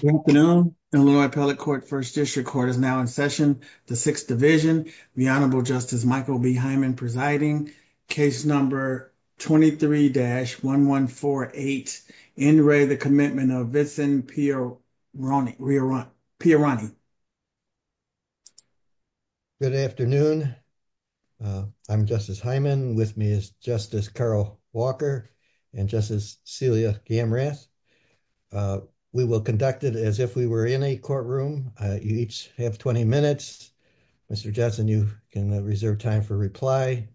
Good afternoon. Illinois Appellate Court First District Court is now in session. The Sixth Division. The Honorable Justice Michael B. Hyman presiding. Case number 23-1148. In re the Commitment of Vinson Pieroni. Good afternoon. I'm Justice Hyman. With me is Justice Carol Walker and Justice Celia Gamrath. We will conduct it as if we were in a courtroom. You each have 20 minutes. Mr. Johnson, you can reserve time for reply.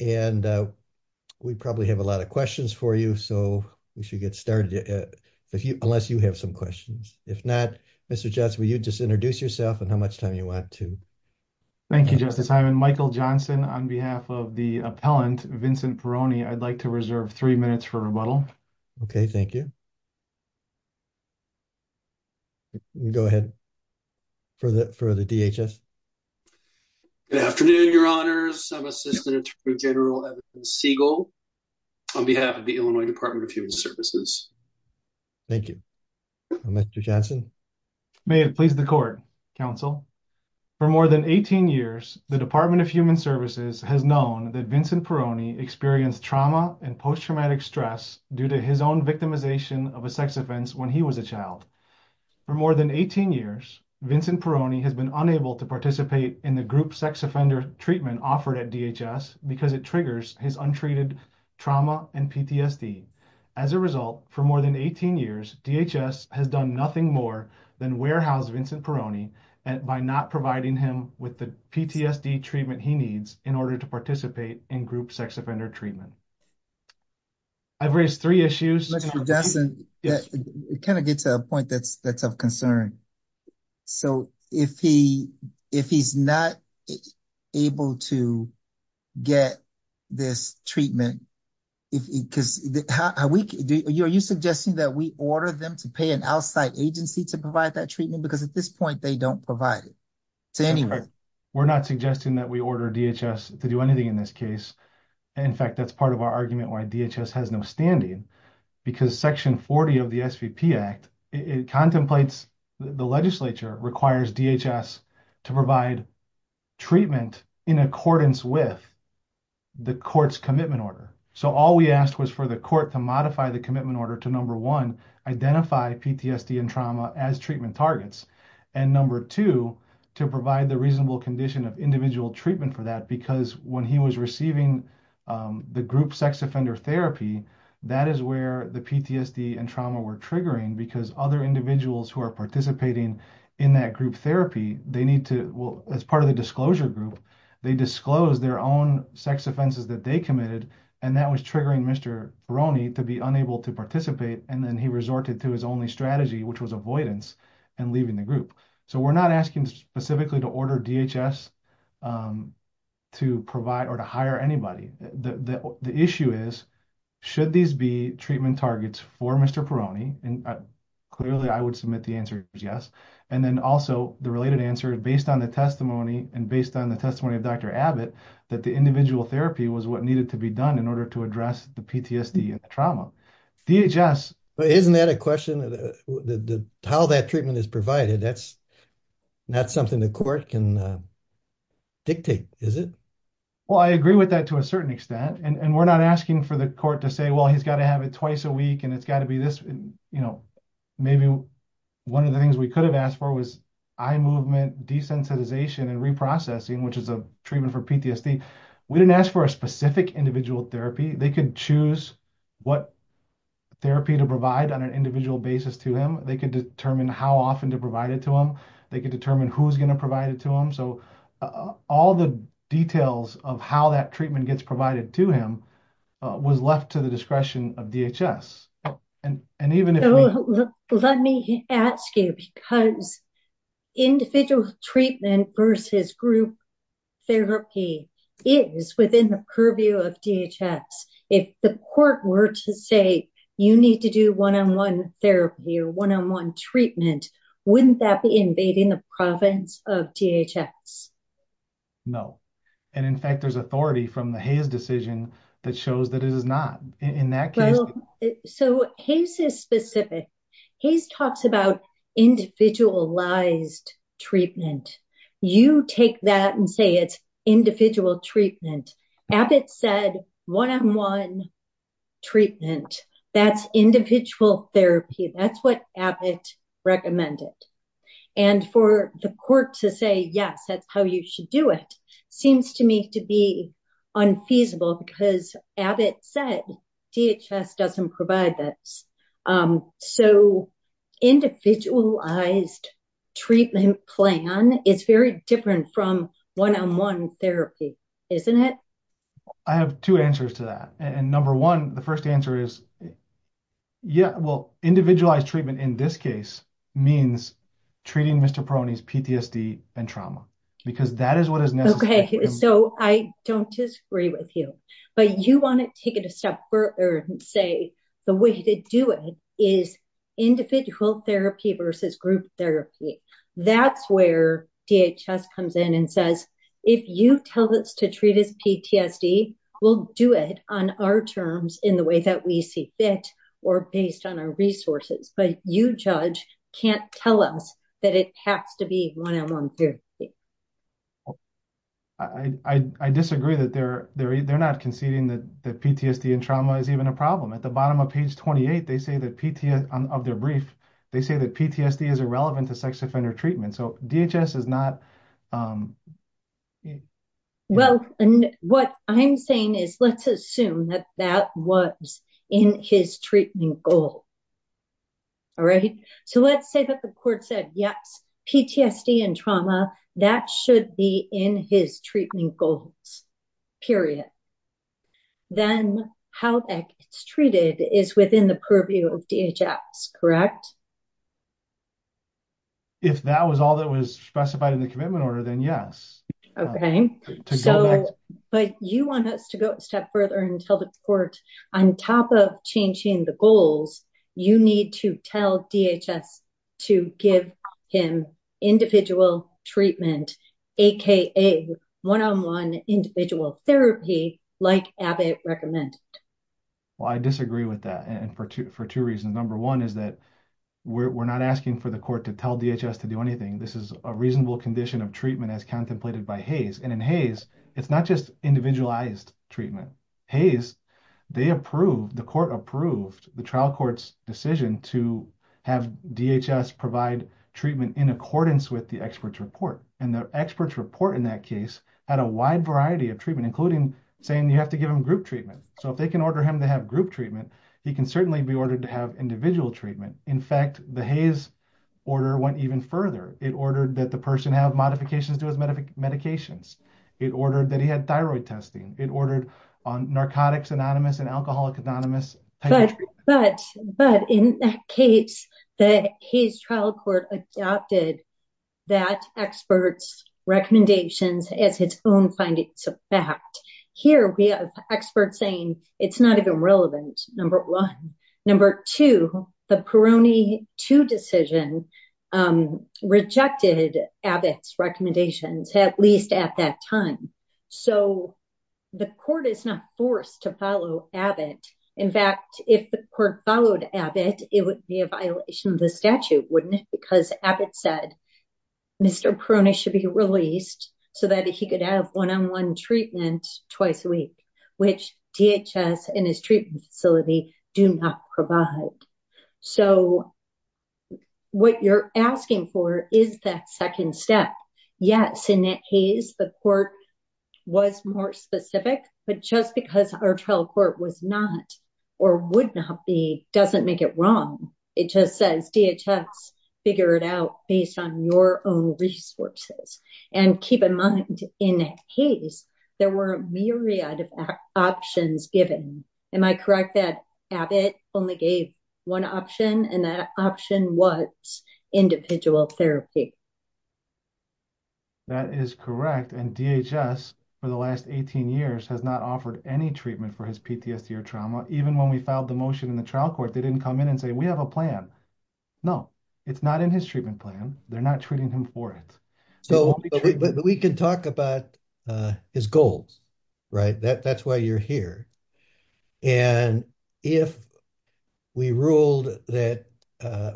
And we probably have a lot of questions for you. So we should get started if you unless you have some questions. If not, Mr. Johnson, will you just introduce yourself and how much time you want to. Thank you, Justice Hyman. Michael Johnson on behalf of the appellant Vinson Pieroni, I'd like to reserve three minutes for rebuttal. Okay, thank you. Go ahead for the DHS. Good afternoon, Your Honors. I'm Assistant Attorney General Evan Siegel on behalf of the Illinois Department of Human Services. Thank you. Mr. Johnson. May it please the court, counsel. For more than 18 years, the Department of Human Services has known that Vinson Pieroni experienced trauma and post-traumatic stress due to his own victimization of a sex offense when he was a child. For more than 18 years, Vinson Pieroni has been unable to participate in the group sex offender treatment offered at DHS because it triggers his untreated trauma and PTSD. As a result, for more than 18 years, DHS has done nothing more than warehouse Vinson Pieroni by not providing him with the PTSD treatment he needs in order to participate in group sex offender treatment. I've raised three issues. Mr. Johnson, it kind of gets to a point that's of concern. So if he's not able to get this treatment, are you suggesting that we order them to pay an outside agency to provide that treatment? Because at this point, they don't provide it to anyone. We're not suggesting that we order DHS to do anything in this case. In fact, that's part of our argument why DHS has no standing. Because Section 40 of the SVP Act, it contemplates, the legislature requires DHS to provide treatment in accordance with the court's commitment order. So all we asked was for the court to modify the commitment order to number one, identify PTSD and trauma as treatment targets. And number two, to provide the reasonable condition of individual treatment for that because when he was receiving the group sex offender therapy, that is where the PTSD and trauma were triggering because other individuals who are participating in that group therapy, they need to, well, as part of the disclosure group, they disclose their own sex offenses that they committed. And that was triggering Mr. Veroni to be unable to participate. And then he resorted to his only strategy, which was avoidance and leaving the group. So we're not asking specifically to order DHS to provide or to hire anybody. The issue is, should these be treatment targets for Mr. Veroni? And clearly I would submit the answer is yes. And then also the related answer is based on the testimony and based on the testimony of Dr. Abbott, that the individual therapy was what needed to be done in order to address the PTSD and the trauma. DHS- dictate, is it? Well, I agree with that to a certain extent. And we're not asking for the court to say, well, he's got to have it twice a week and it's got to be this, you know, maybe one of the things we could have asked for was eye movement desensitization and reprocessing, which is a treatment for PTSD. We didn't ask for a specific individual therapy. They could choose what therapy to provide on an individual basis to him. They could determine how often to provide it to him. They could determine who's going to provide it to him. So all the details of how that treatment gets provided to him was left to the discretion of DHS. And even if- Let me ask you, because individual treatment versus group therapy is within the purview of DHS. If the court were to say, you need to do one-on-one therapy or one-on-one treatment, wouldn't that be invading the province of DHS? No. And in fact, there's authority from the Hays decision that shows that it is not. In that case- Well, so Hays is specific. Hays talks about individualized treatment. You take that and say it's individual treatment. Abbott said one-on-one treatment, that's individual therapy. That's what Abbott recommended. And for the court to say, yes, that's how you should do it, seems to me to be unfeasible because Abbott said DHS doesn't provide this. So individualized treatment plan is very different from one-on-one therapy, isn't it? I have two answers to that. And number one, the first answer is, yeah, well, individualized treatment in this case means treating Mr. Paroni's PTSD and trauma because that is what is necessary. Okay. So I don't disagree with you, but you want to take it a step further and say the way to do it is individual therapy versus group therapy. That's where DHS comes in and says, if you tell us to treat his PTSD, we'll do it on our terms in the way that we see fit or based on our resources. But you judge can't tell us that it has to be one-on-one therapy. I disagree that they're not conceding that PTSD and trauma is even a problem. At the bottom of page 28 of their brief, they say that PTSD is irrelevant to sex offender treatment. So DHS is not... Well, what I'm saying is let's assume that that was in his treatment goal. All right. So let's say that the court said, yes, PTSD and trauma, that should be in his treatment goals, period. Then how it's treated is within the purview of DHS, correct? If that was all that was specified in the commitment order, then yes. Okay. So, but you want us to go a step further and tell the court on top of changing the goals, you need to tell DHS to give him individual treatment, aka one-on-one individual therapy like Abbott recommended. Well, I disagree with that. And for two reasons. Number one is that we're not asking for the court to tell DHS to do anything. This is a reasonable condition of treatment as contemplated by Hays. And in Hays, it's not just individualized treatment. Hays, the court approved the trial court's decision to have DHS provide treatment in accordance with the expert's report. And the expert's report in that case had a wide variety of treatment, including saying you have to give him group treatment. So if they can order him to group treatment, he can certainly be ordered to have individual treatment. In fact, the Hays order went even further. It ordered that the person have modifications to his medications. It ordered that he had thyroid testing. It ordered on narcotics anonymous and alcoholic anonymous. But in that case, the Hays trial court adopted that expert's recommendations as its own findings of fact. Here we have experts saying it's not even relevant. Number one. Number two, the Peroni two decision rejected Abbott's recommendations, at least at that time. So the court is not forced to follow Abbott. In fact, if the court followed Abbott, it would be a violation of the statute, wouldn't it? Because Abbott said, Mr. Peroni should be released so that he could have one-on-one treatment twice a week, which DHS and his treatment facility do not provide. So what you're asking for is that second step. Yes, in that case, the court was more specific, but just because our trial court was not, or would not be, doesn't make it wrong. It just says DHS, figure it out based on your own resources and keep in mind in Hays, there were a myriad of options given. Am I correct that Abbott only gave one option and that option was individual therapy? That is correct. And DHS for the last 18 years has not offered any treatment for his PTSD or trauma. Even when we filed the motion in the trial court, they didn't come in and say, we have a plan. No, it's not in his treatment plan. They're not treating him for it. So we can talk about his goals, right? That's why you're here. And if we ruled that,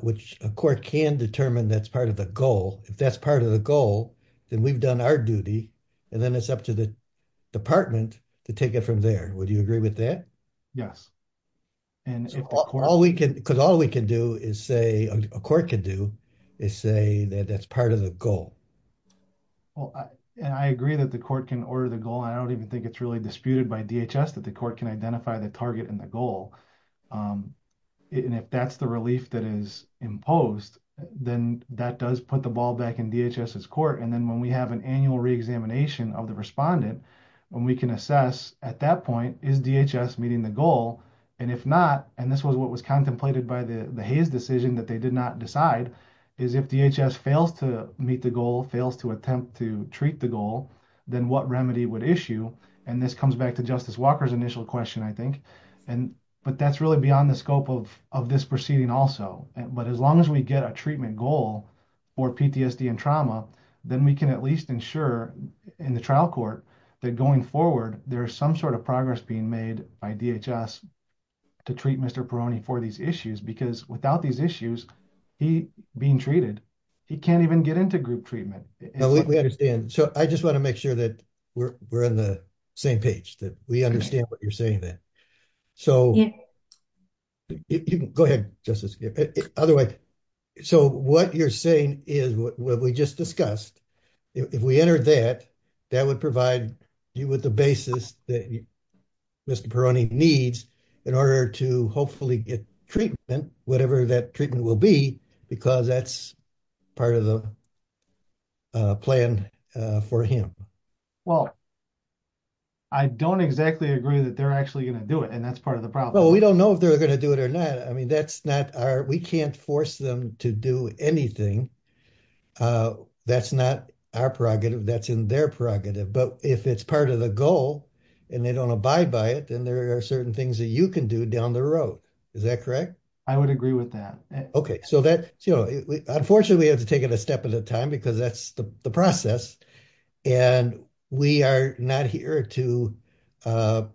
which a court can determine that's part of the goal, if that's part of the goal, then we've done our duty, and then it's up to the department to take it from there. Would you agree with that? Yes. Because all we can do is say, a court can do, is say that that's part of the goal. Well, and I agree that the court can order the goal. I don't even think it's really disputed by DHS that the court can identify the target and the goal. And if that's the relief that is imposed, then that does put the ball back in DHS's court. And then when we have an annual re-examination of the respondent, when we can assess at that point, is DHS meeting the goal? And if not, and this was what was contemplated by the Hayes decision that they did not decide, is if DHS fails to meet the goal, fails to attempt to treat the goal, then what remedy would issue? And this comes back to Justice Walker's initial question, I think. But that's really beyond the scope of this proceeding also. But as long as we get a treatment goal for PTSD and trauma, then we can at least ensure in the trial court that going forward, there's some sort of progress being made by DHS to treat Mr. Peroni for these issues. Because without these issues, he being treated, he can't even get into group treatment. So I just want to make sure that we're in the same page, that we understand what you're saying there. So go ahead, Justice. Otherwise, so what you're saying is what we just discussed. If we entered that, that would provide you with the basis that Mr. Peroni needs in order to hopefully get treatment, whatever that treatment will be, because that's part of the plan for him. Well, I don't exactly agree that they're actually going to do it. And that's part of the problem. Well, we don't know if they're going to do it or not. I mean, that's not our, we can't force them to do anything. That's not our prerogative. That's in their prerogative. But if it's part of the goal, and they don't abide by it, then there are certain things that you can do down the road. Is that correct? I would agree with that. Okay. So that, unfortunately, we have to take it a step at a time because that's the process. And we are not here to tell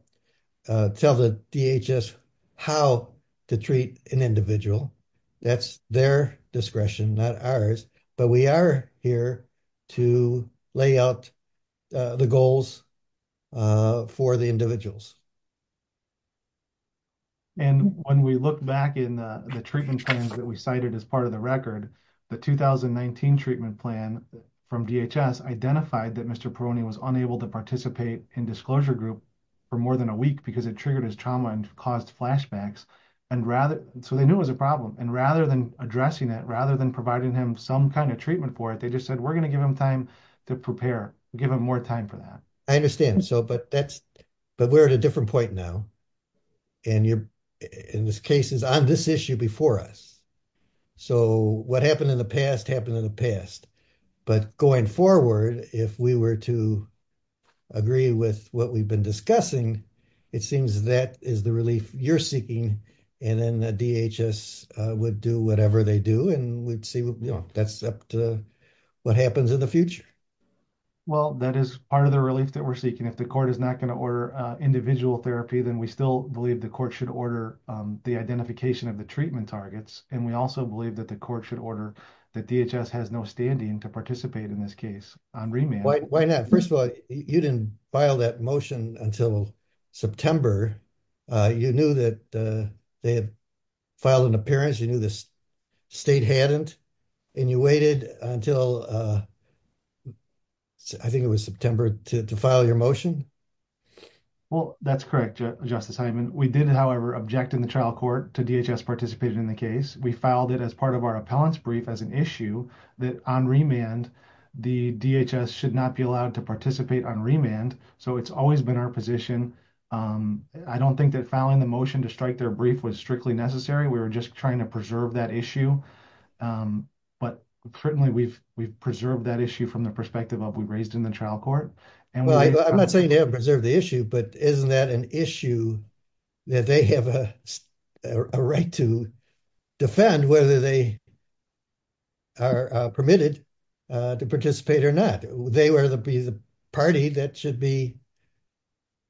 the DHS how to treat an individual. That's their discretion, not ours. But we are here to lay out the goals for the individuals. And when we look back in the treatment plans that we cited as part of the record, the 2019 treatment plan from DHS identified that Mr. Perrone was unable to participate in disclosure group for more than a week because it triggered his trauma and caused flashbacks. And rather, so they knew it was a problem. And rather than addressing it, rather than providing him some kind of treatment for it, they just said, we're going to give him time to prepare, give him more time for that. I understand. So, but that's, but we're at a different point now and you're in this case is on this issue before us. So what happened in the past happened in the past, but going forward, if we were to agree with what we've been discussing, it seems that is the relief you're seeking. And then the DHS would do whatever they do. And we'd see, you know, that's up to what happens in the future. Well, that is part of the relief that we're seeking. If the court is not going to order individual therapy, then we still believe the court should order the identification of the treatment targets. And we also believe that the court should order that DHS has no standing to participate in this case on remand. Why not? First of all, you didn't file that motion until September. You knew that they had filed an appearance. You knew this state hadn't, and you waited until I think it was September to file your motion. Well, that's correct. Justice Hyman. We did, however, object in the trial court to DHS participated in the case. We filed it as part of our appellant's brief as an issue that on remand, the DHS should not be allowed to participate on remand. So it's always been our position. I don't think that filing the motion to strike their brief was strictly necessary. We were just trying to preserve that issue. But certainly we've preserved that issue from the perspective of we raised in the trial court. Well, I'm not saying they haven't preserved the issue, but isn't that an issue that they have a right to defend whether they are permitted to participate or not? They would be the party that should be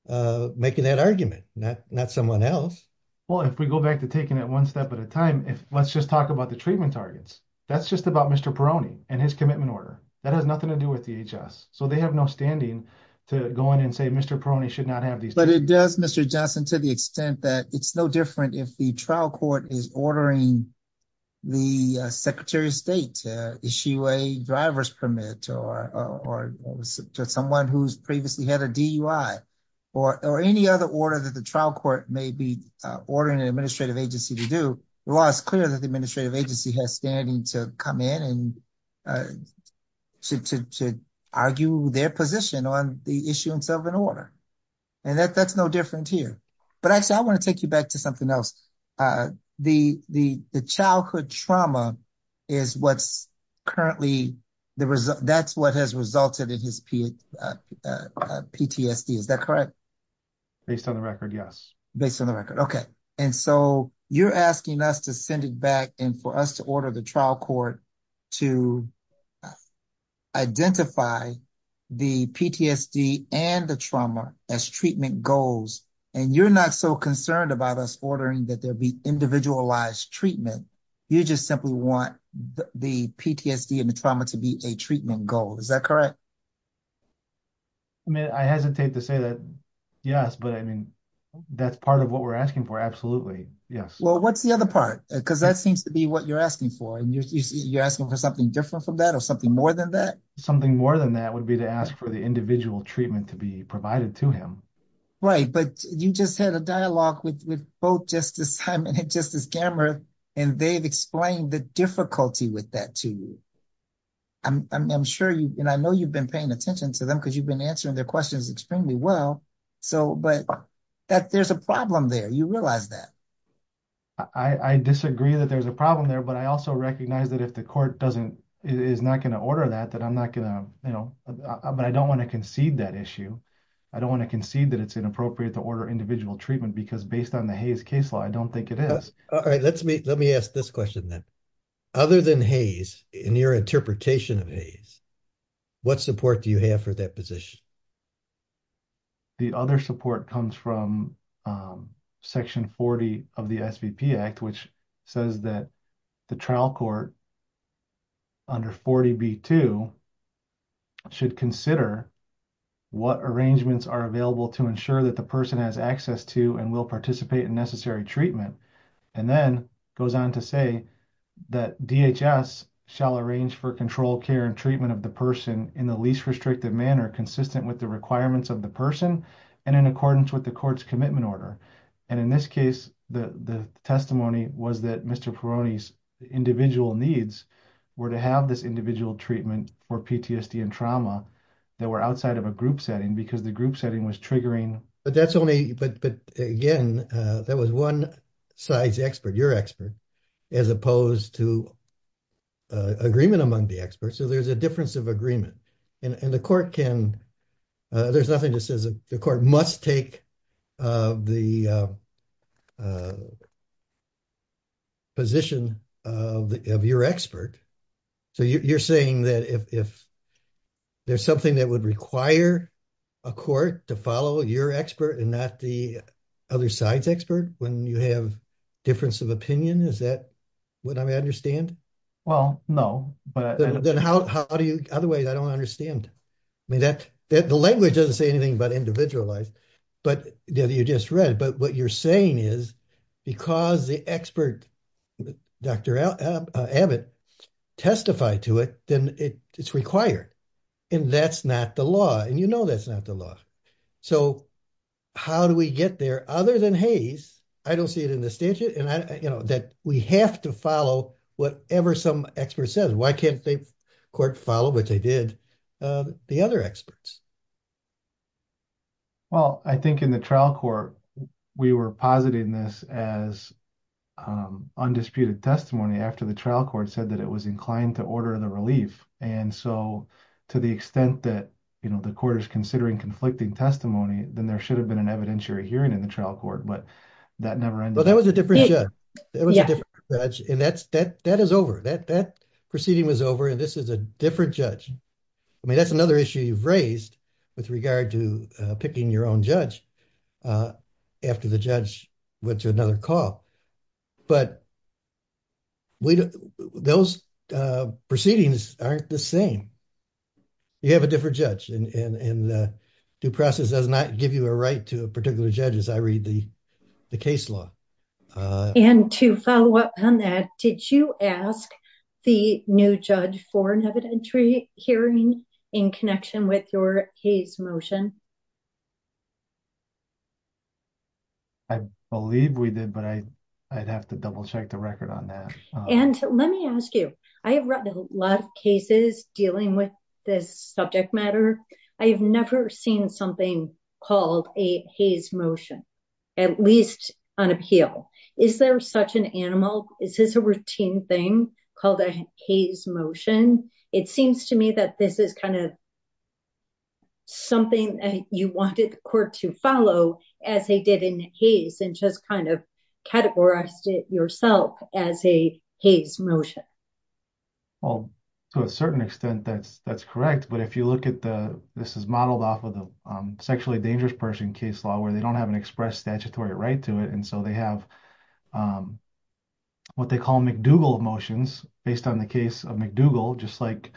making that argument, not someone else. Well, if we go back to taking it one step at a time, let's just talk about the treatment targets. That's just about Mr. Perrone and his commitment order. That has nothing to do with DHS. So they have no standing to go in and say Mr. Perrone should not have these. But it does, Mr. Johnson, to the extent that it's no different if the trial court is ordering the Secretary of State to issue a driver's permit or someone who's previously had a DUI or any other order that the trial court may be ordering an administrative agency to do, the law is clear that the administrative agency has standing to come in and to argue their position on the issuance of an order. And that's no different here. But actually, I want to take you back to something else. The childhood trauma is what's currently the result. That's what has resulted in his PTSD. Is that correct? Based on the record, yes. Based on the record. Okay. And so you're asking us to send it back and for us to order the trial court to identify the PTSD and the trauma as treatment goals. And you're not so concerned about us ordering that there be individualized treatment. You just simply want the PTSD and the trauma to be a treatment goal. Is that correct? I mean, I hesitate to say that. Yes. But I mean, that's part of what we're asking for. Absolutely. Yes. Well, what's the other part? Because that seems to be what you're asking for. And you're asking for something different from that or something more than that? Something more than that would be to ask for the individual treatment to be provided to him. Right. But you just had a dialogue with both Justice Simon and Justice Gammer. And they've explained the difficulty with that to you. I'm sure you, and I know you've been paying attention to them because you've been answering their questions extremely well. So, but there's a problem there. You realize that? I disagree that there's a problem there, but I also recognize that if the court doesn't, is not going to order that, that I'm not going to, you know, but I don't want to concede that issue. I don't want to concede that it's inappropriate to order individual treatment because based on the Hayes case law, I don't think it is. All right. Let me ask this question then. Other than Hayes, in your interpretation of Hayes, what support do you have for that position? The other support comes from Section 40 of the SVP Act, which says that the trial court under 40B2 should consider what arrangements are available to ensure that the person has access to and will participate in necessary treatment. And then goes on to say that DHS shall arrange for control care and treatment of the person in the least restrictive manner, consistent with the requirements of the person and in accordance with the court's commitment order. And in this case, the testimony was that Mr. Peroni's individual needs were to have this individual treatment for PTSD and trauma that were outside of a group setting because the group setting was triggering. But that's only, but again, that was one size expert, your expert, as opposed to agreement among the experts. So there's a difference of agreement and the court can, there's nothing that says the court must take the position of your expert. So you're saying that if there's something that would require a court to follow your expert and not the other side's expert, when you have difference of opinion, is that what I understand? Well, no. But then how do you, otherwise I don't understand. I mean, that the language doesn't say anything about individualized, but you just read, but what you're saying is because the expert, Dr. Abbott, testified to it, then it's required. And that's not the law. And you know, that's not the law. So how do we get there other than Hays? I don't see it in the statute. And I, you know, we have to follow whatever some expert says. Why can't they court follow what they did, the other experts? Well, I think in the trial court, we were positing this as undisputed testimony after the trial court said that it was inclined to order the relief. And so to the extent that, you know, the court is considering conflicting testimony, then there should have been an evidentiary hearing in the trial court, but that never was. Well, that was a different judge. That was a different judge. And that's, that, that is over, that, that proceeding was over. And this is a different judge. I mean, that's another issue you've raised with regard to picking your own judge after the judge went to another call. But those proceedings aren't the same. You have a different judge and the due process does not give you a right to a particular judge as I read the case law. And to follow up on that, did you ask the new judge for an evidentiary hearing in connection with your Hays motion? I believe we did, but I, I'd have to double check the record on that. And let me ask you, I have read a lot of cases dealing with this subject matter. I have never seen something called a Hays motion, at least on appeal. Is there such an animal? Is this a routine thing called a Hays motion? It seems to me that this is kind of something you wanted the court to follow as they did in Hays and just kind of categorized it yourself as a Hays motion. Well, to a certain extent, that's, that's correct. But if you look at the, this is modeled off of the sexually dangerous person case law where they don't have an express statutory right to it. And so they have what they call McDougall motions based on the case of McDougall, just like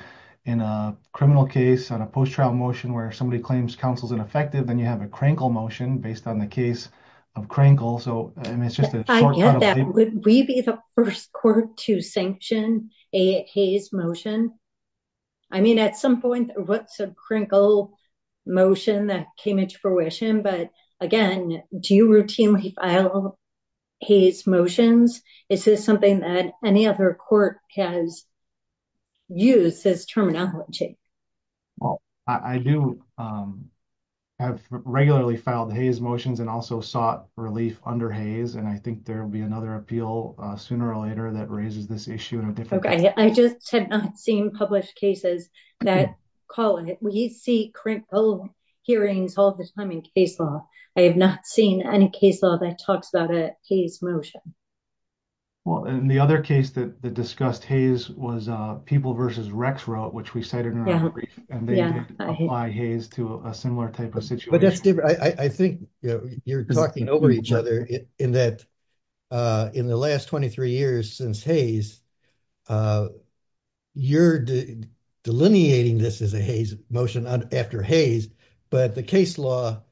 in a criminal case on a post-trial motion where somebody claims counsel's ineffective, then you have a Krenkel motion based on the case of Krenkel. So, I mean, it's just a Would we be the first court to sanction a Hays motion? I mean, at some point, what's a Krenkel motion that came into fruition? But again, do you routinely file Hays motions? Is this something that any other court has used this terminology? Well, I do have regularly filed Hays motions and also sought relief under Hays. And I think there will be another appeal sooner or later that raises this issue in a different way. I just have not seen published cases that call on it. We see Krenkel hearings all the time in case law. I have not seen any case law that talks about a Hays motion. Well, and the other case that discussed Hays was people versus Rex wrote, which we cited in our brief. And they apply Hays to a similar type of situation. But that's different. I think you're talking over each other in that in the last 23 years since Hays, you're delineating this as a Hays motion after Hays, but the case law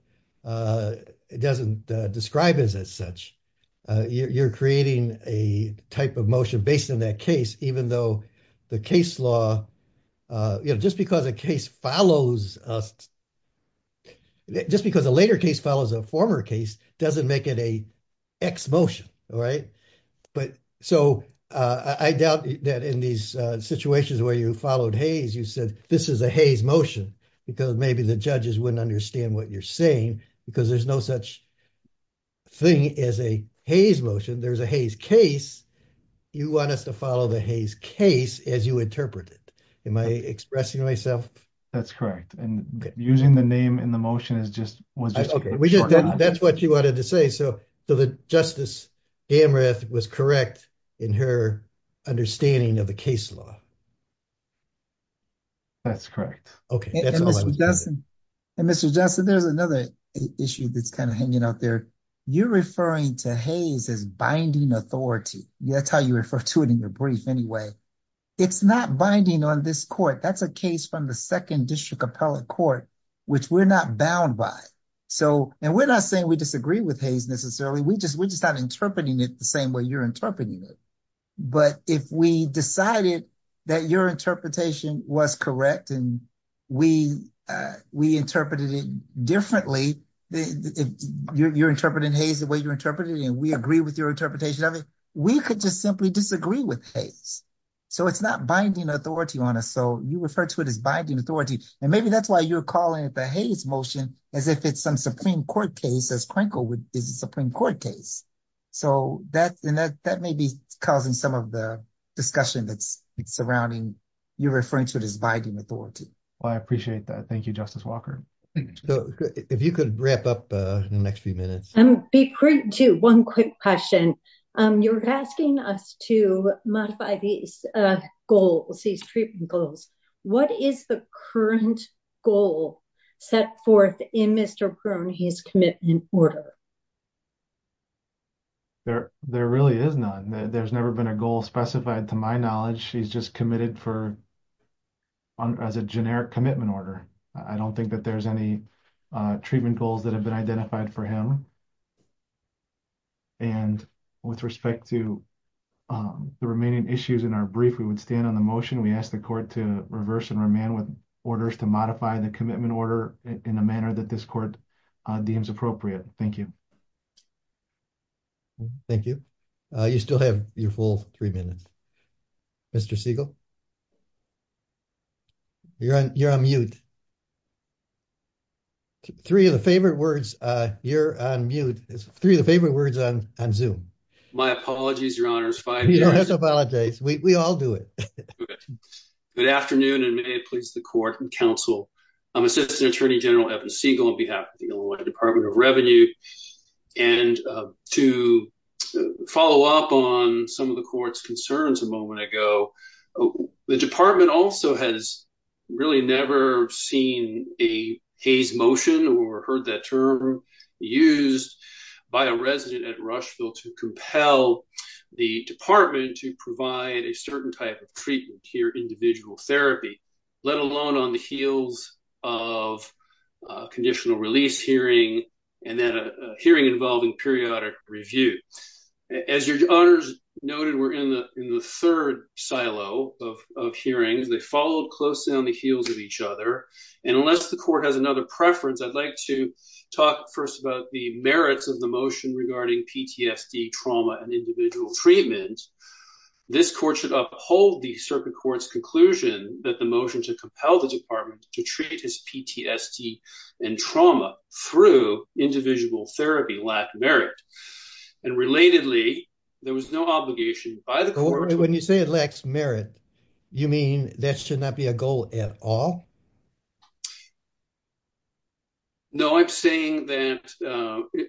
doesn't describe it as such. You're creating a type of motion based on that case, even though the case law, just because a case follows us, just because a later case follows a former case, doesn't make it a X motion. So I doubt that in these situations where you followed Hays, you said, this is a Hays motion because maybe the judges wouldn't understand what you're saying, because there's no such thing as a Hays motion. There's a Hays case. You want us to follow the Hays case as you interpret it. Am I expressing myself? That's correct. And using the name in the motion was just a short answer. That's what you wanted to say. So Justice Amroth was correct in her understanding of the case law. That's correct. Okay. And Mr. Johnson, there's another issue that's kind of hanging out there. You're referring to Hays as binding authority. That's how you refer to it in your brief anyway. It's not binding on this court. That's a case from the second district appellate court, which we're not bound by. And we're not saying we disagree with Hays necessarily, we're just not interpreting it the same way you're interpreting it. But if we decided that your interpretation was correct, and we interpreted it differently, you're interpreting Hays the way you're interpreting it, and we agree with your interpretation of it, we could just simply disagree with Hays. So it's not binding authority on us. So you refer to it as binding authority. And maybe that's why you're calling it the Hays motion, as if it's some Supreme Court case, as Crankle is a Supreme Court case. So that may be causing some of the discussion that's surrounding, you're referring to it as binding authority. Well, I appreciate that. Thank you, Justice Walker. If you could wrap up in the next few minutes. One quick question. You're asking us to modify goals, treatment goals. What is the current goal set forth in Mr. Prune, his commitment order? There really is none. There's never been a goal specified to my knowledge. He's just committed as a generic commitment order. I don't think that there's any treatment goals that have been We would stand on the motion. We ask the court to reverse and remand with orders to modify the commitment order in a manner that this court deems appropriate. Thank you. Thank you. You still have your full three minutes. Mr. Siegel. You're on mute. Three of the favorite words, you're on mute. Three of the favorite words on Zoom. My apologies, your honors. You don't have to apologize. We all do it. Good afternoon and may it please the court and counsel. I'm Assistant Attorney General Evan Siegel on behalf of the Illinois Department of Revenue. And to follow up on some of the court's concerns a moment ago, the department also has really never seen a Hays motion or heard that term used by a resident at Rushville to compel the department to provide a certain type of treatment here, individual therapy, let alone on the heels of a conditional release hearing and then a hearing involving periodic review. As your honors noted, we're in the third silo of hearings. They followed closely on the heels of each other. And unless the court has another preference, I'd like to talk first about the merits of the motion regarding PTSD, trauma, and individual treatment. This court should uphold the circuit court's conclusion that the motion to compel the department to treat his PTSD and trauma through individual therapy lack merit. And relatedly, there was no obligation by the court. When you say it lacks merit, you mean that should not be a goal at all? No, I'm saying that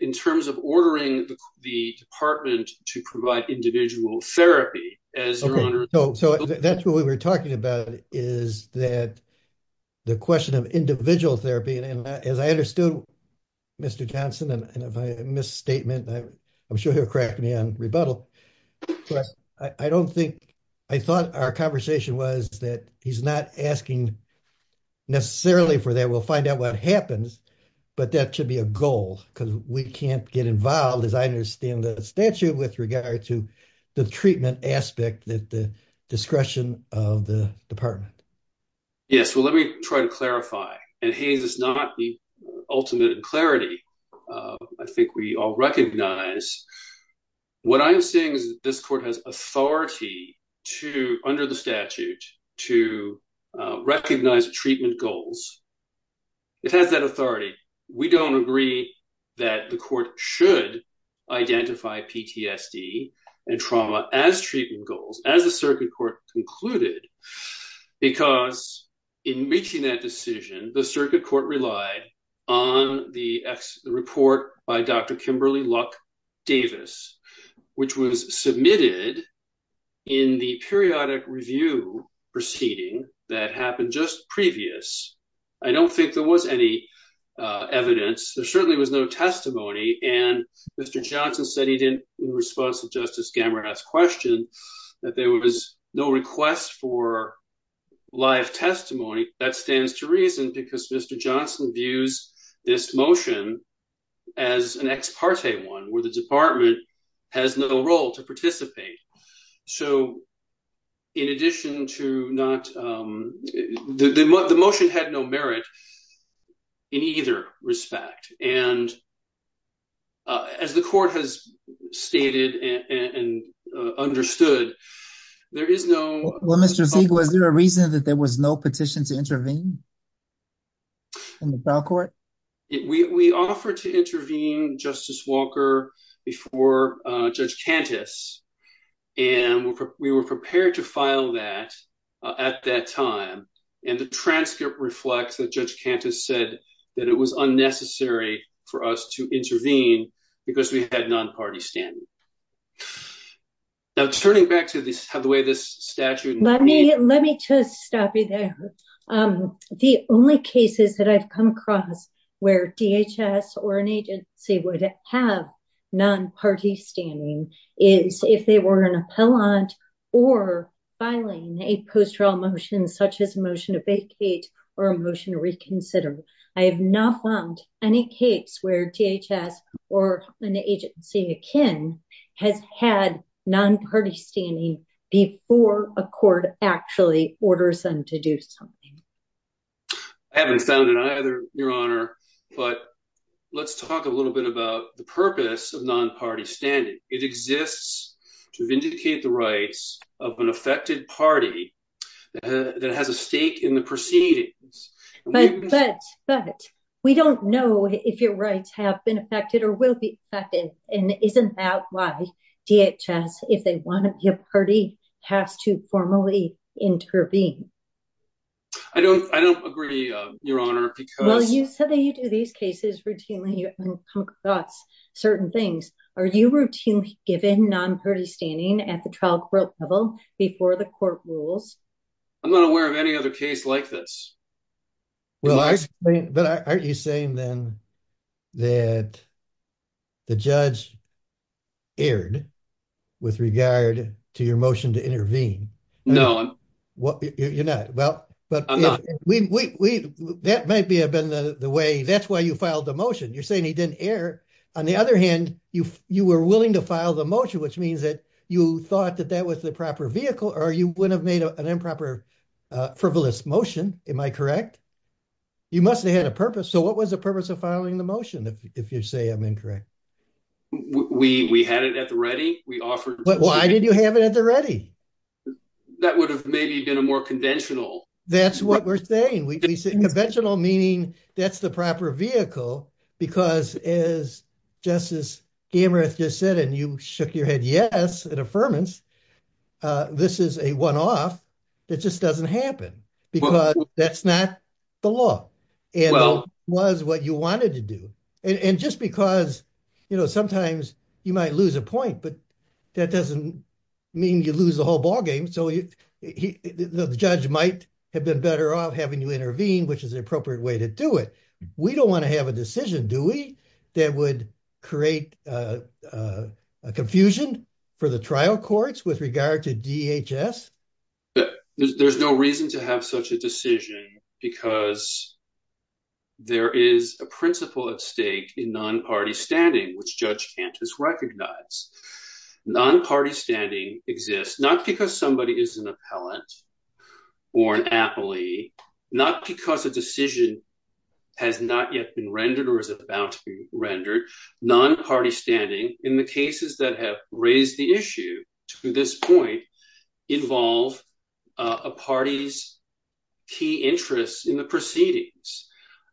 in terms of ordering the department to provide individual therapy as your honor. So that's what we were talking about is that the question of individual therapy. And as I understood Mr. Johnson, and if I misstatement, I'm sure he'll crack me on rebuttal, but I don't think, I thought our conversation was that he's not asking necessarily for that. We'll find out what happens, but that should be a goal because we can't get involved as I understand the statute with regard to the treatment aspect that the discretion of the department. Yes, well, let me try to clarify. And Hayes is not the ultimate clarity. I think we all recognize what I'm seeing is that this court has authority to, under the statute, to recognize treatment goals. It has that authority. We don't agree that the court should identify PTSD and trauma as treatment goals, as the circuit court concluded, because in reaching that decision, the circuit court relied on the report by Dr. Kimberly Luck-Davis, which was submitted in the periodic review proceeding that happened just previous. I don't think there was any evidence. There certainly was no testimony. And Mr. Johnson said he didn't, in response to Justice Gammerhat's question, that there was no request for live testimony. That stands to reason because Mr. Johnson views this motion as an ex parte one where the department has no role to participate. So in addition to not, the motion had no merit in either respect. And as the court has stated and understood, there is no... Well, Mr. Zeig, was there a reason that there was no petition to intervene in the trial court? We offered to intervene Justice Walker before Judge Cantus, and we were prepared to file that at that time. And the transcript reflects that Judge Cantus said that it was unnecessary for us to intervene because we had non-party standing. Now turning back to the way this statute... Let me just stop you there. The only cases that I've come across where DHS or an agency would have non-party standing is if they were an appellant or filing a post-trial motion such as a motion to vacate or a motion to reconsider. I have not found any case where DHS or an agency akin has had non-party standing before a court actually orders them to do something. I haven't found it either, Your Honor, but let's talk a little bit the purpose of non-party standing. It exists to vindicate the rights of an affected party that has a stake in the proceedings. But we don't know if your rights have been affected or will be affected, and isn't that why DHS, if they want to be a party, has to formally intervene? I don't agree, Your Honor, because... Well, you said that you do these cases routinely. You've come across certain things. Are you routinely given non-party standing at the trial court level before the court rules? I'm not aware of any other case like this. Well, aren't you saying then that the judge erred with regard to your motion to intervene? No, I'm not. You're not. Well, that might have been the way... That's why you filed the motion. You're saying he didn't err. On the other hand, you were willing to file the motion, which means that you thought that that was the proper vehicle or you wouldn't have made an improper frivolous motion. Am I correct? You must have had a purpose. So what was the purpose of filing the motion, if you say I'm incorrect? We had it at the ready. We offered... Why did you have it at the ready? That would have maybe been a more conventional... That's what we're saying. We say conventional, meaning that's the proper vehicle, because as Justice Gammarath just said, and you shook your head yes at affirmance, this is a one-off that just doesn't happen, because that's not the law. It was what you wanted to do. And just because, you know, sometimes you might lose a point, but that doesn't mean you lose the whole ballgame. So the judge might have been better off having you intervene, which is an appropriate way to do it. We don't want to have a decision, do we, that would create a confusion for the trial courts with regard to DHS? There's no reason to have such a decision because there is a principle at stake in non-party standing, which Judge Cantus recognized. Non-party standing exists not because somebody is an appellant or an appellee, not because a decision has not yet been rendered or is about to be rendered. Non-party standing in the cases that have raised the issue to this point involve a party's key interests in the proceedings.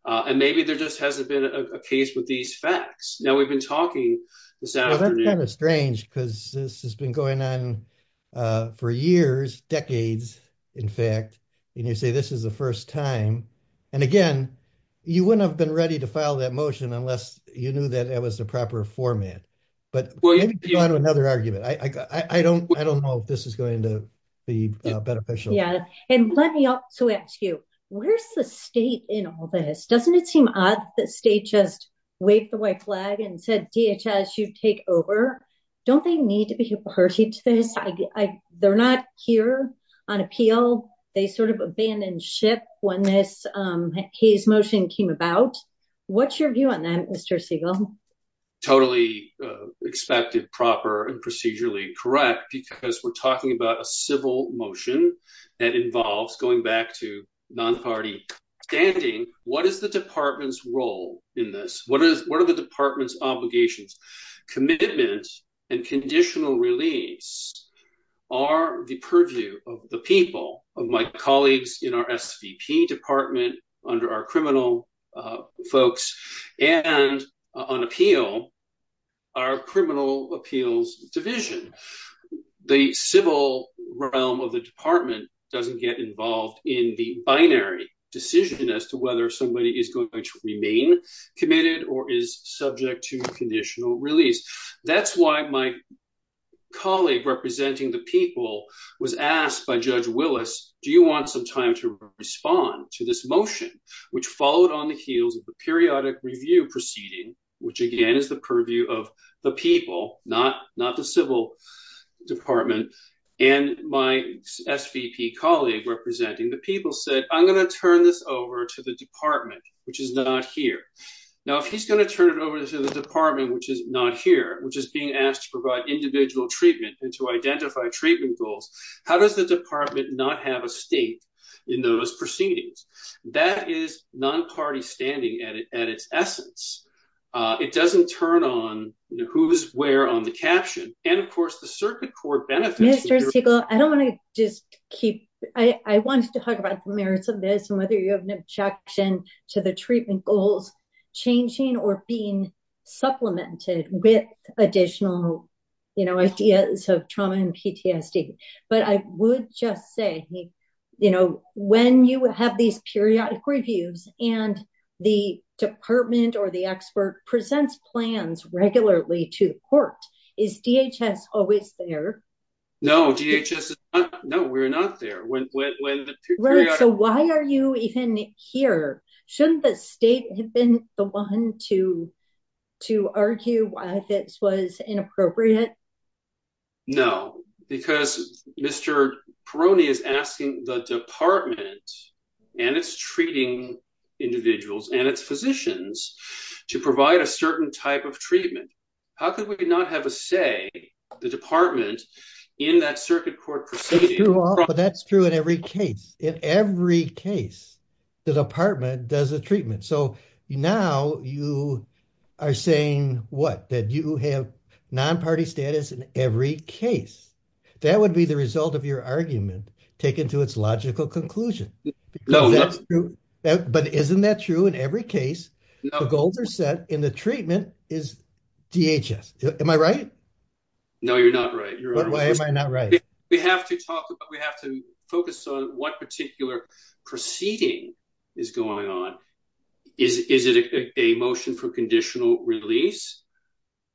And maybe there just hasn't been a case with these facts. Now, we've been talking this afternoon. Well, that's kind of strange, because this has been going on for years, decades, in fact, and you say this is the first time. And again, you wouldn't have been ready to file that motion unless you knew that it was the proper format. But maybe go on to another argument. I don't know if this is going to be beneficial. Yeah. And let me also ask you, where's the state in all this? Doesn't it seem odd that the state just waved the white flag and said, DHS, you take over? Don't they need to be a party to this? They're not here on appeal. They sort of abandoned ship when this case motion came about. What's your view on that, Mr. Siegel? Totally expected, proper, and procedurally correct, because we're talking about a civil motion that involves going back to non-party standing. What is the department's role in this? What are the department's obligations? Commitment and conditional release are the purview of the people, of my colleagues in our SVP department, under our criminal folks, and on appeal, our criminal appeals division. The civil realm of the department doesn't get involved in the binary decision as to whether somebody is going to remain committed or is subject to conditional release. That's why my colleague representing the people was asked by Judge Willis, do you want some time to respond to this motion, which followed on the heels of the periodic review proceeding, which again, is the purview of the people, not the civil department. And my SVP colleague representing the people said, I'm going to turn this over to the department, which is not here. Now, if he's going to turn it over to the department, which is not here, which is being asked to provide individual treatment and to identify treatment goals, how does the department not have a stake in those proceedings? That is non-party standing at its essence. It doesn't turn on who's where on the caption. And of course the circuit court benefits- Mr. Siegel, I don't want to just keep, I wanted to talk about the merits of this and whether you have an objection to the treatment goals changing or being supplemented with additional, you know, ideas of trauma and PTSD. But I would just say, you know, when you have these periodic reviews and the department or the expert presents plans regularly to court, is DHS always there? No, DHS is not. No, we're not there. Right. So why are you even here? Shouldn't the state have been the one to, to argue why this was inappropriate? No, because Mr. Peroni is asking the department and it's treating individuals and its physicians to provide a certain type of treatment. How could every case? In every case, the department does a treatment. So now you are saying what? That you have non-party status in every case. That would be the result of your argument taken to its logical conclusion. But isn't that true? In every case, the goals are set and the treatment is DHS. Am I right? No, you're not right. Why am I not right? We have to talk about, we have to focus on what particular proceeding is going on. Is it a motion for conditional release?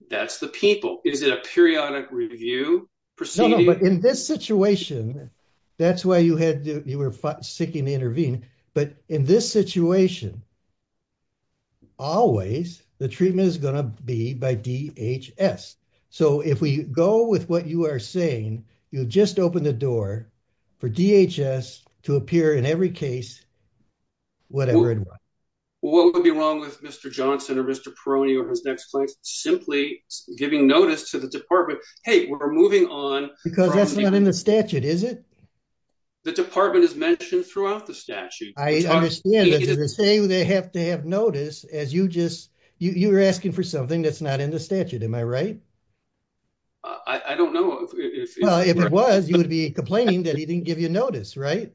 That's the people. Is it a periodic review proceeding? No, no. But in this situation, that's why you had to, you were seeking to intervene. But in this situation, always the treatment is going to be by DHS. So if we go with what you are saying, you'll just open the door for DHS to appear in every case, whatever it was. Well, what would be wrong with Mr. Johnson or Mr. Peroni or his next place simply giving notice to the department? Hey, we're moving on. Because that's not in the statute, is it? The department is mentioned throughout the statute. I understand that they say they have to have notice as you just, you're asking for something that's not in the statute. Am I right? I don't know. Well, if it was, you would be complaining that he didn't give you notice, right?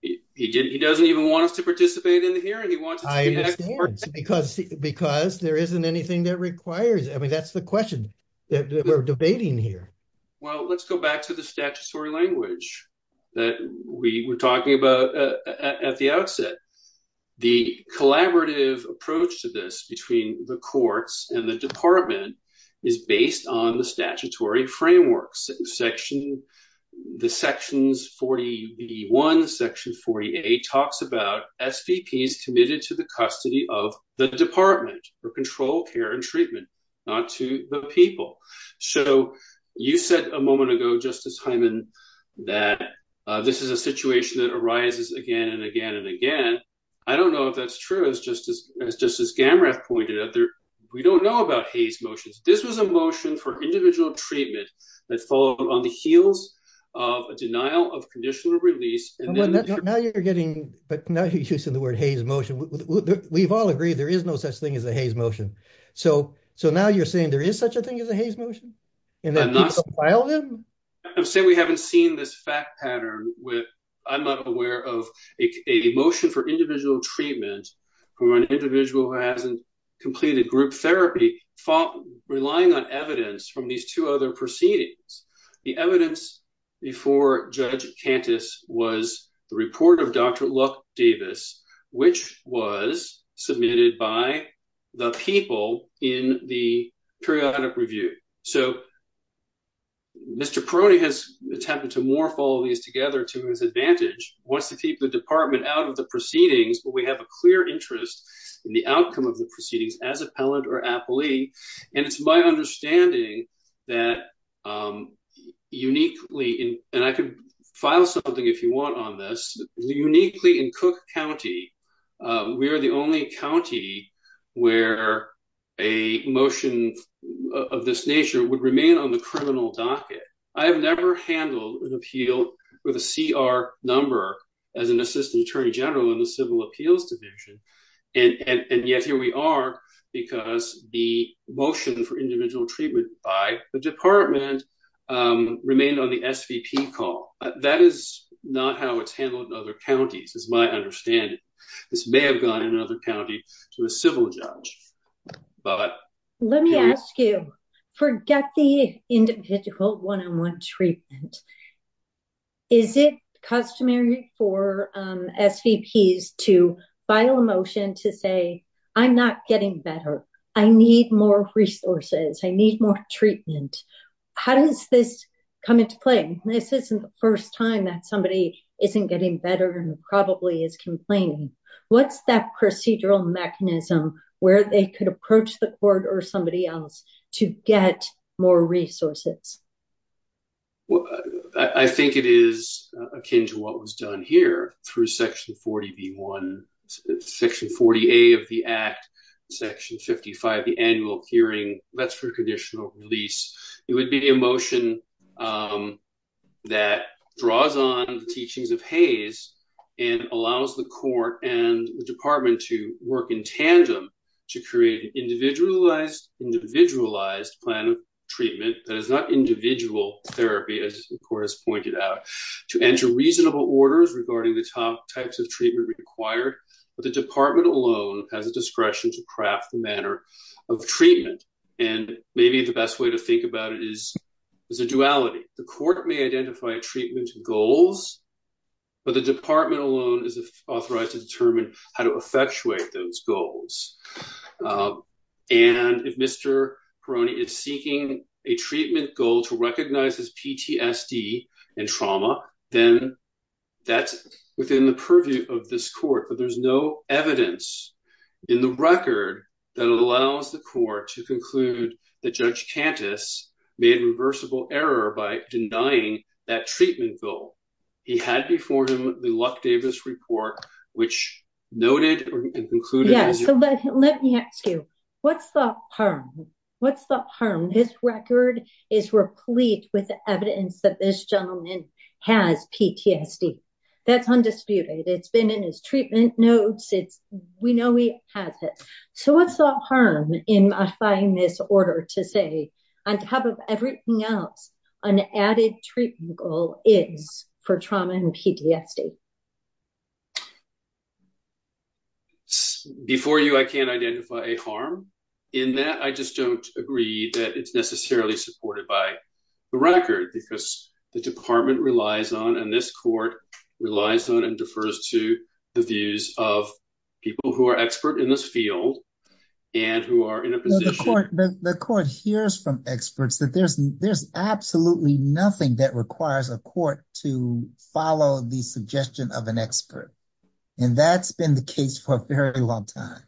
He doesn't even want us to participate in the hearing. He wants us to be experts. I understand. Because there isn't anything that requires, I mean, that's the question that we're debating here. Well, let's go back to the statutory language that we were talking about at the outset. The collaborative approach to this between the courts and the department is based on the statutory frameworks. Section, the sections 41, section 48 talks about SVPs committed to the custody of the department for control, care, and treatment, not to the people. So you said a moment ago, Justice Hyman, that this is a situation that arises again and again and again. I don't know if that's true as Justice Gamrath pointed out. We don't know about Hayes motions. This was a motion for individual treatment that followed on the heels of a denial of conditional release. Now you're getting, but now you're using the word Hayes motion. We've all agreed there is no such thing as a Hayes motion. So now you're saying there is such a thing as a Hayes motion? And that people filed him? I'm saying we haven't seen this fact pattern where I'm not aware of a motion for individual treatment for an individual who hasn't completed group therapy, relying on evidence from these two other proceedings. The evidence before Judge Cantus was the report of Dr. Luck Davis, which was submitted by the people in the periodic review. So Mr. Peroni has attempted to morph all these together to his advantage, wants to keep the department out of the proceedings, but we have a clear interest in the outcome of the proceedings as appellant or appellee. And it's my understanding that uniquely, and I could file something if you want on this, uniquely in Cook County, we are the only county where a motion of this nature would remain on the criminal docket. I have never handled an appeal with a CR number as an assistant attorney general in the civil appeals division. And yet here we are, because the motion for individual treatment by the department remained on the SVP call. That is not how it's handled in other counties, is my understanding. This may have gone in another county to a civil judge. Let me ask you, forget the individual one-on-one treatment. Is it customary for SVPs to file a motion to say, I'm not getting better. I need more resources. I need more treatment. How does this come into play? This isn't the first time that somebody isn't getting better and probably is complaining. What's that procedural mechanism where they could approach the court or somebody else to get more resources? I think it is akin to what was done here through section 40B1, section 40A of the act, section 55, the annual hearing, that's for conditional release. It would be a motion that draws on the teachings of Hays and allows the court and the department to work in tandem to create an individualized plan of treatment that is not individual therapy, as the court has pointed out, to enter reasonable orders regarding the types of treatment required. But the department alone has a discretion to craft the manner of treatment. And maybe the best way to think about it is a duality. The court may identify treatment goals, but the department alone is authorized to determine how to effectuate those goals. And if Mr. Peroni is seeking a treatment goal to recognize his PTSD and trauma, then that's within the purview of this court. But there's no evidence in the record that allows the court to that Judge Cantus made a reversible error by denying that treatment goal. He had before him the Luck-Davis report, which noted and concluded... Yes, so let me ask you, what's the harm? This record is replete with evidence that this gentleman has PTSD. That's undisputed. It's been his treatment notes. We know he has it. So what's the harm in modifying this order to say, on top of everything else, an added treatment goal is for trauma and PTSD? Before you, I can't identify a harm in that. I just don't agree that it's necessarily supported by the record because the department relies on, and this court relies on and defers to, the views of people who are expert in this field and who are in a position... The court hears from experts that there's absolutely nothing that requires a court to follow the suggestion of an expert. And that's been the case for a very long time.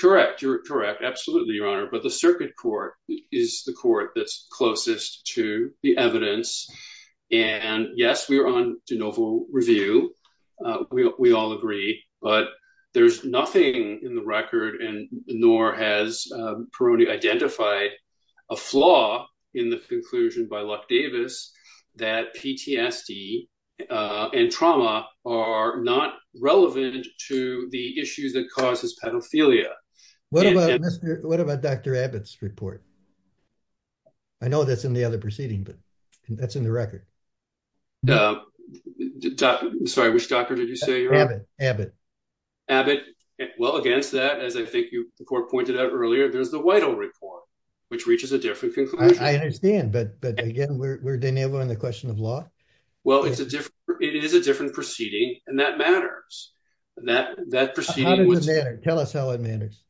Correct. You're correct. Absolutely, Your Honor. But the circuit court is the court that's closest to the evidence. And yes, we are on de novo review. We all agree. But there's nothing in the record, nor has Peroni identified a flaw in the conclusion by Luck-Davis that PTSD and trauma are not relevant to the issues that causes pedophilia. What about Dr. Abbott's report? I know that's in the other proceeding, but that's in the record. Sorry, which doctor did you say? Abbott. Abbott. Well, against that, as I think the court pointed out earlier, there's the Whitehall report, which reaches a different conclusion. I understand. But again, we're de novo on the question of law. Well, it is a different proceeding, and that matters. Tell us how it matters.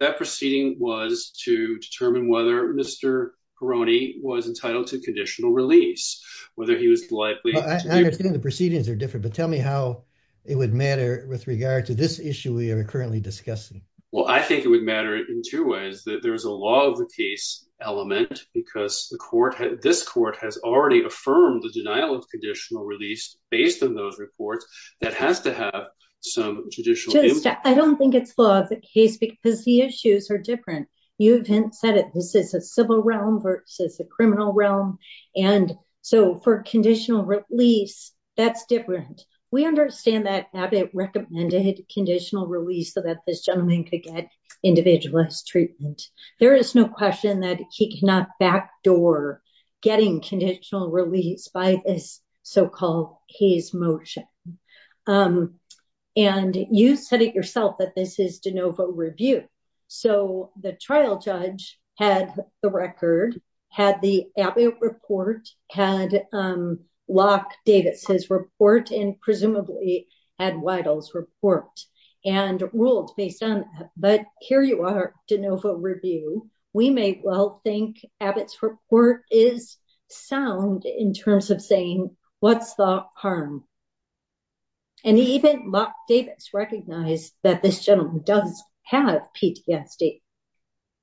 That proceeding was to determine whether Mr. Peroni was entitled to conditional release, whether he was likely... I understand the proceedings are different, but tell me how it would matter with regard to this issue we are currently discussing. Well, I think it would matter in two ways, that there's a law of the case element, because this court has already affirmed the denial of conditional release based on those reports. That has to have some judicial impact. I don't think it's law of the case, because the issues are different. You've said it. This is a civil realm versus a criminal realm. And so for conditional release, that's different. We could get individualized treatment. There is no question that he cannot backdoor getting conditional release by this so-called case motion. And you said it yourself that this is de novo review. So the trial judge had the record, had the Abbott report, had Locke Davis' report, and presumably had Weidel's report, and ruled based on that. But here you are, de novo review. We may well think Abbott's report is sound in terms of saying, what's the harm? And even Locke Davis recognized that this gentleman does have PTSD.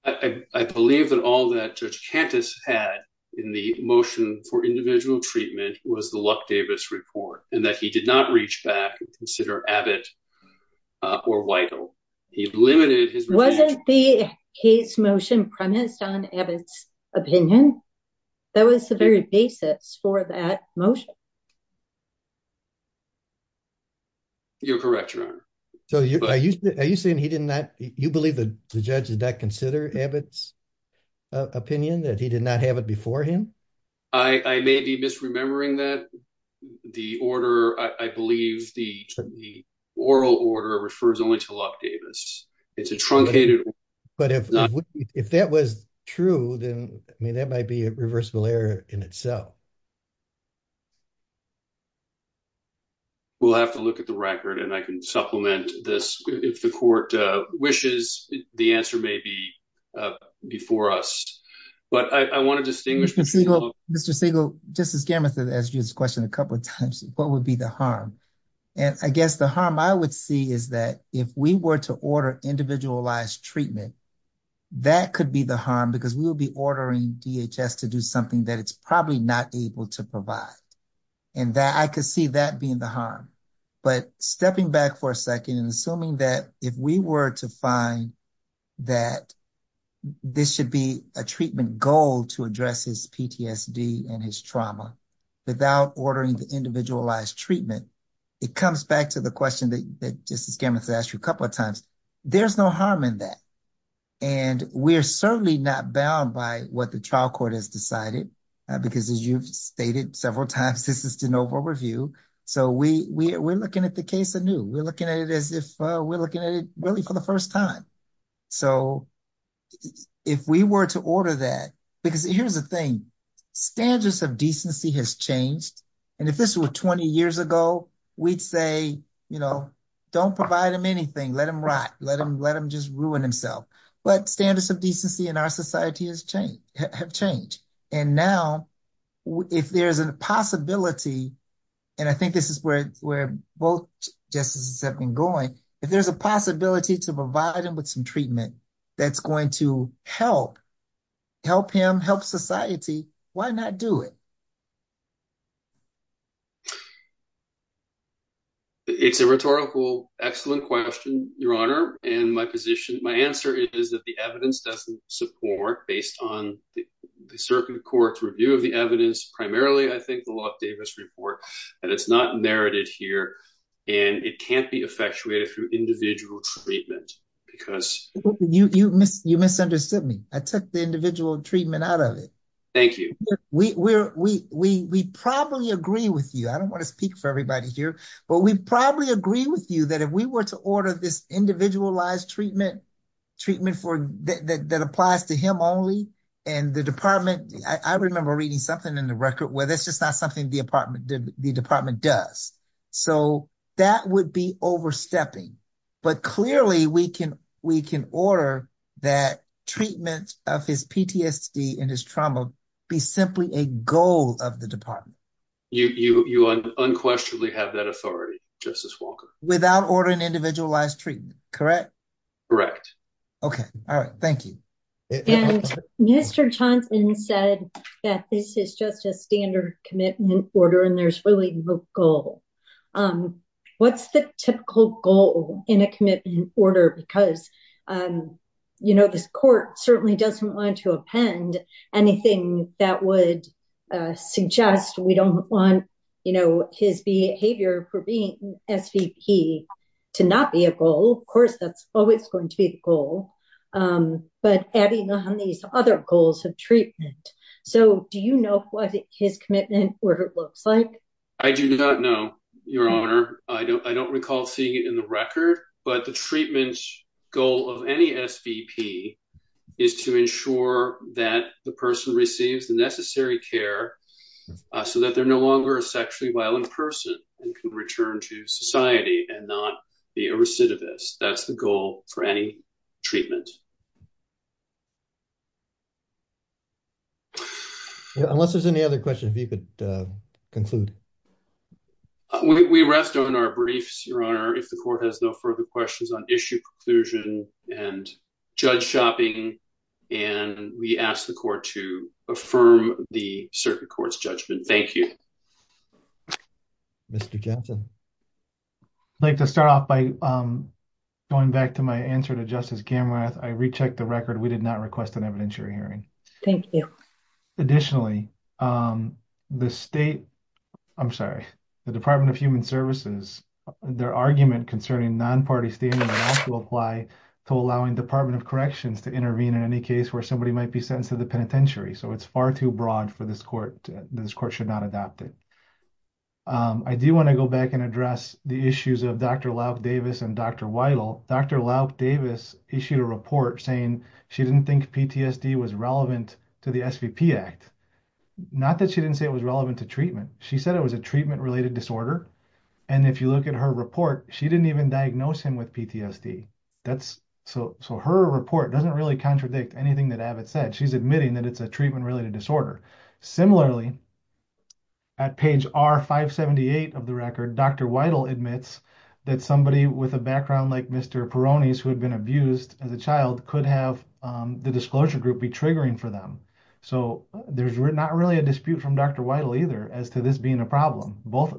I believe that all that Judge Cantus had in the motion for individual treatment was the record, and that he did not reach back and consider Abbott or Weidel. He limited his review. Wasn't the case motion premised on Abbott's opinion? That was the very basis for that motion. You're correct, Your Honor. So are you saying he did not, you believe that the judge did not consider Abbott's opinion, that he did not have it before him? I may be misremembering that the order, I believe the oral order refers only to Locke Davis. It's a truncated order. But if that was true, then, I mean, that might be a reversible error in itself. We'll have to look at the record, and I can supplement this. If the court wishes, the answer may be before us. But I want to distinguish between the two. Mr. Siegel, Justice Gammath has asked you this question a couple of times, what would be the harm? And I guess the harm I would see is that if we were to order individualized treatment, that could be the harm, because we will be ordering DHS to do something that it's probably not able to provide. And that I could see that being the harm. But stepping back for a second and assuming that if we were to find that this should be a treatment goal to address his PTSD and his trauma, without ordering the individualized treatment, it comes back to the question that Justice Gammath asked you a couple of times. There's no harm in that. And we're certainly not bound by what the trial court has decided, because as you've stated several times, this is de novo review. So we're looking at the case anew. We're looking at it as if we're looking at it really for the first time. So if we were to order that, because here's the thing, standards of decency has changed. And if this were 20 years ago, we'd say, you know, don't provide him anything, let him rot, let him just ruin himself. But standards of decency in our society have changed. And now, if there's a possibility, and I think this is where both justices have been going, if there's a possibility to provide him with some treatment that's going to help him, help society, why not do it? It's a rhetorical, excellent question, Your Honor. And my answer is that the evidence doesn't support, based on the circuit court's review of the evidence, primarily, I think, the Locke-Davis report, that it's not narrated here. And it can't be effectuated through individual treatment, because... You misunderstood me. I took the individual treatment out of it. Thank you. We probably agree with you. I don't want to speak for everybody here. But we probably agree with you that if we were to order this individualized treatment treatment that applies to him only, and the department... I remember reading something in the record where that's just not something the department does. So that would be overstepping. But clearly, we can order that treatment of his PTSD and his trauma be simply a goal of the department. You unquestionably have that authority, Justice Walker. Without ordering individualized treatment, correct? Correct. Okay. All right. Thank you. And Mr. Johnson said that this is just a standard commitment order, and there's really no goal. What's the typical goal in a commitment order? Because this court certainly doesn't want to anything that would suggest we don't want his behavior for being SVP to not be a goal. Of course, that's always going to be the goal. But adding on these other goals of treatment. So do you know what his commitment order looks like? I do not know, Your Honor. I don't recall seeing it in the record. But the treatment goal of any SVP is to ensure that the person receives the necessary care so that they're no longer a sexually violent person and can return to society and not be a recidivist. That's the goal for any treatment. Unless there's any other questions, if you could conclude. We rest on our briefs, Your Honor, if the court has no further questions on issue, conclusion, and judge shopping. And we ask the court to affirm the circuit court's judgment. Thank you. Mr. Johnson. I'd like to start off by going back to my answer to Justice Kammerath. I rechecked the record. We did not request an evidentiary hearing. Thank you. Additionally, the State, I'm sorry, the Department of Human Services, their argument concerning non-party standing will have to apply to allowing Department of Corrections to intervene in any case where somebody might be sentenced to the penitentiary. So it's far too broad for this court. This court should not adopt it. I do want to go back and address the issues of Dr. Laup Davis and Dr. Weidel. Dr. Laup Davis issued a report saying she didn't think PTSD was relevant to the SVP Act. Not that she didn't say it was relevant to treatment. She said it was a treatment-related disorder. And if you look at her report, she didn't even diagnose him with PTSD. So her report doesn't really contradict anything that Abbott said. She's admitting that it's a treatment-related disorder. Similarly, at page R578 of the record, Dr. Weidel admits that somebody with a background like Mr. Perrone's who had been abused as a child could have the disclosure group be triggering for them. So there's not really a dispute from Dr. Weidel either as to this being a problem. Both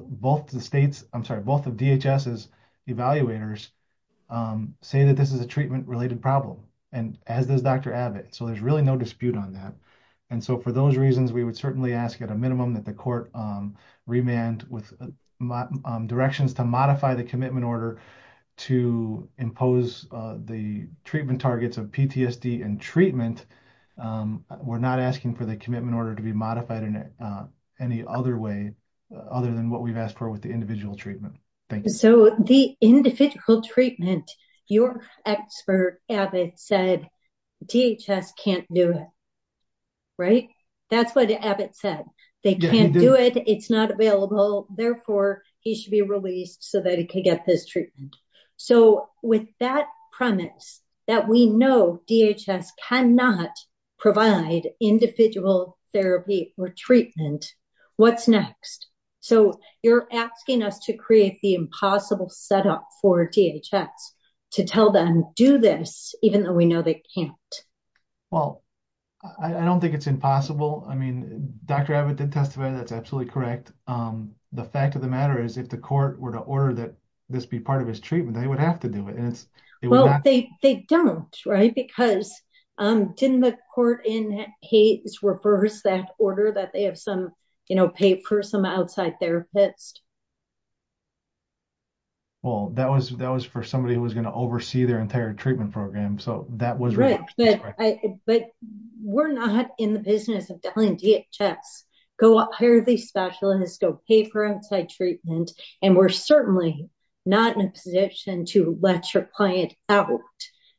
of the states, I'm sorry, both of DHS's evaluators say that this is a treatment-related problem and as does Dr. Abbott. So there's really no dispute on that. And so for those reasons, we would certainly ask at a minimum that the court remand with directions to modify the order to impose the treatment targets of PTSD and treatment. We're not asking for the commitment order to be modified in any other way other than what we've asked for with the individual treatment. Thank you. So the individual treatment, your expert Abbott said DHS can't do it, right? That's what Abbott said. They can't do it. It's not available. Therefore, he should be released so that he can get this treatment. So with that premise that we know DHS cannot provide individual therapy or treatment, what's next? So you're asking us to create the impossible setup for DHS to tell them, do this, even though we know they can't. Well, I don't think it's impossible. I mean, Dr. Abbott did testify. That's absolutely correct. The fact of the matter is if the court were to order that this be part of his treatment, they would have to do it. Well, they don't, right? Because didn't the court in Hayes reverse that order that they have some, you know, pay for some outside therapists? Well, that was for somebody who was going to oversee their entire treatment program. So that was right. But we're not in the business of telling DHS, go out, hire these specialists, go pay for outside treatment. And we're certainly not in a position to let your client out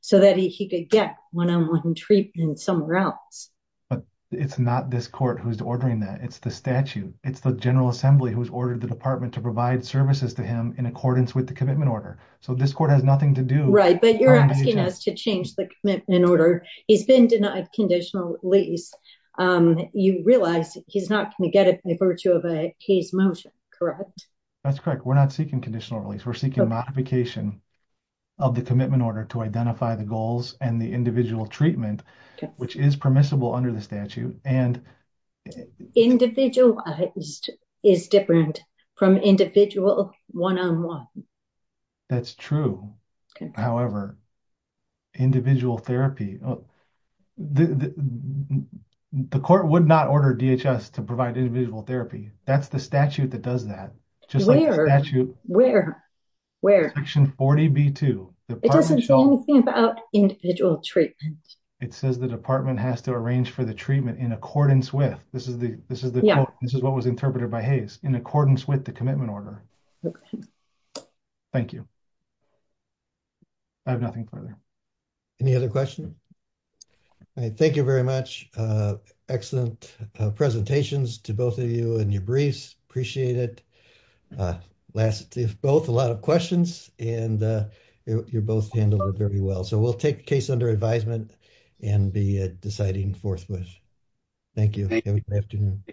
so that he could get one-on-one treatment somewhere else. But it's not this court who's ordering that. It's the statute. It's the general assembly who's ordered the department to provide services to him in accordance with the commitment order. So this court has nothing to do. Right. But you're asking us to change the commitment order. He's been denied conditional release. You realize he's not going to get it by virtue of a case motion, correct? That's correct. We're not seeking conditional release. We're seeking modification of the commitment order to identify the goals and the individual treatment, which is permissible under the statute. And individual therapy. The court would not order DHS to provide individual therapy. That's the statute that does that. Just like the statute. Where? Where? Section 40B2. It doesn't say anything about individual treatment. It says the department has to arrange for the treatment in accordance with. This is what was interpreted by Hayes, in accordance with the commitment order. Okay. Thank you. I have nothing further. Any other questions? All right. Thank you very much. Excellent presentations to both of you and your briefs. Appreciate it. Last, if both, a lot of questions and you both handled it very well. So we'll take case under advisement and be deciding forthwith. Thank you. Have a good afternoon.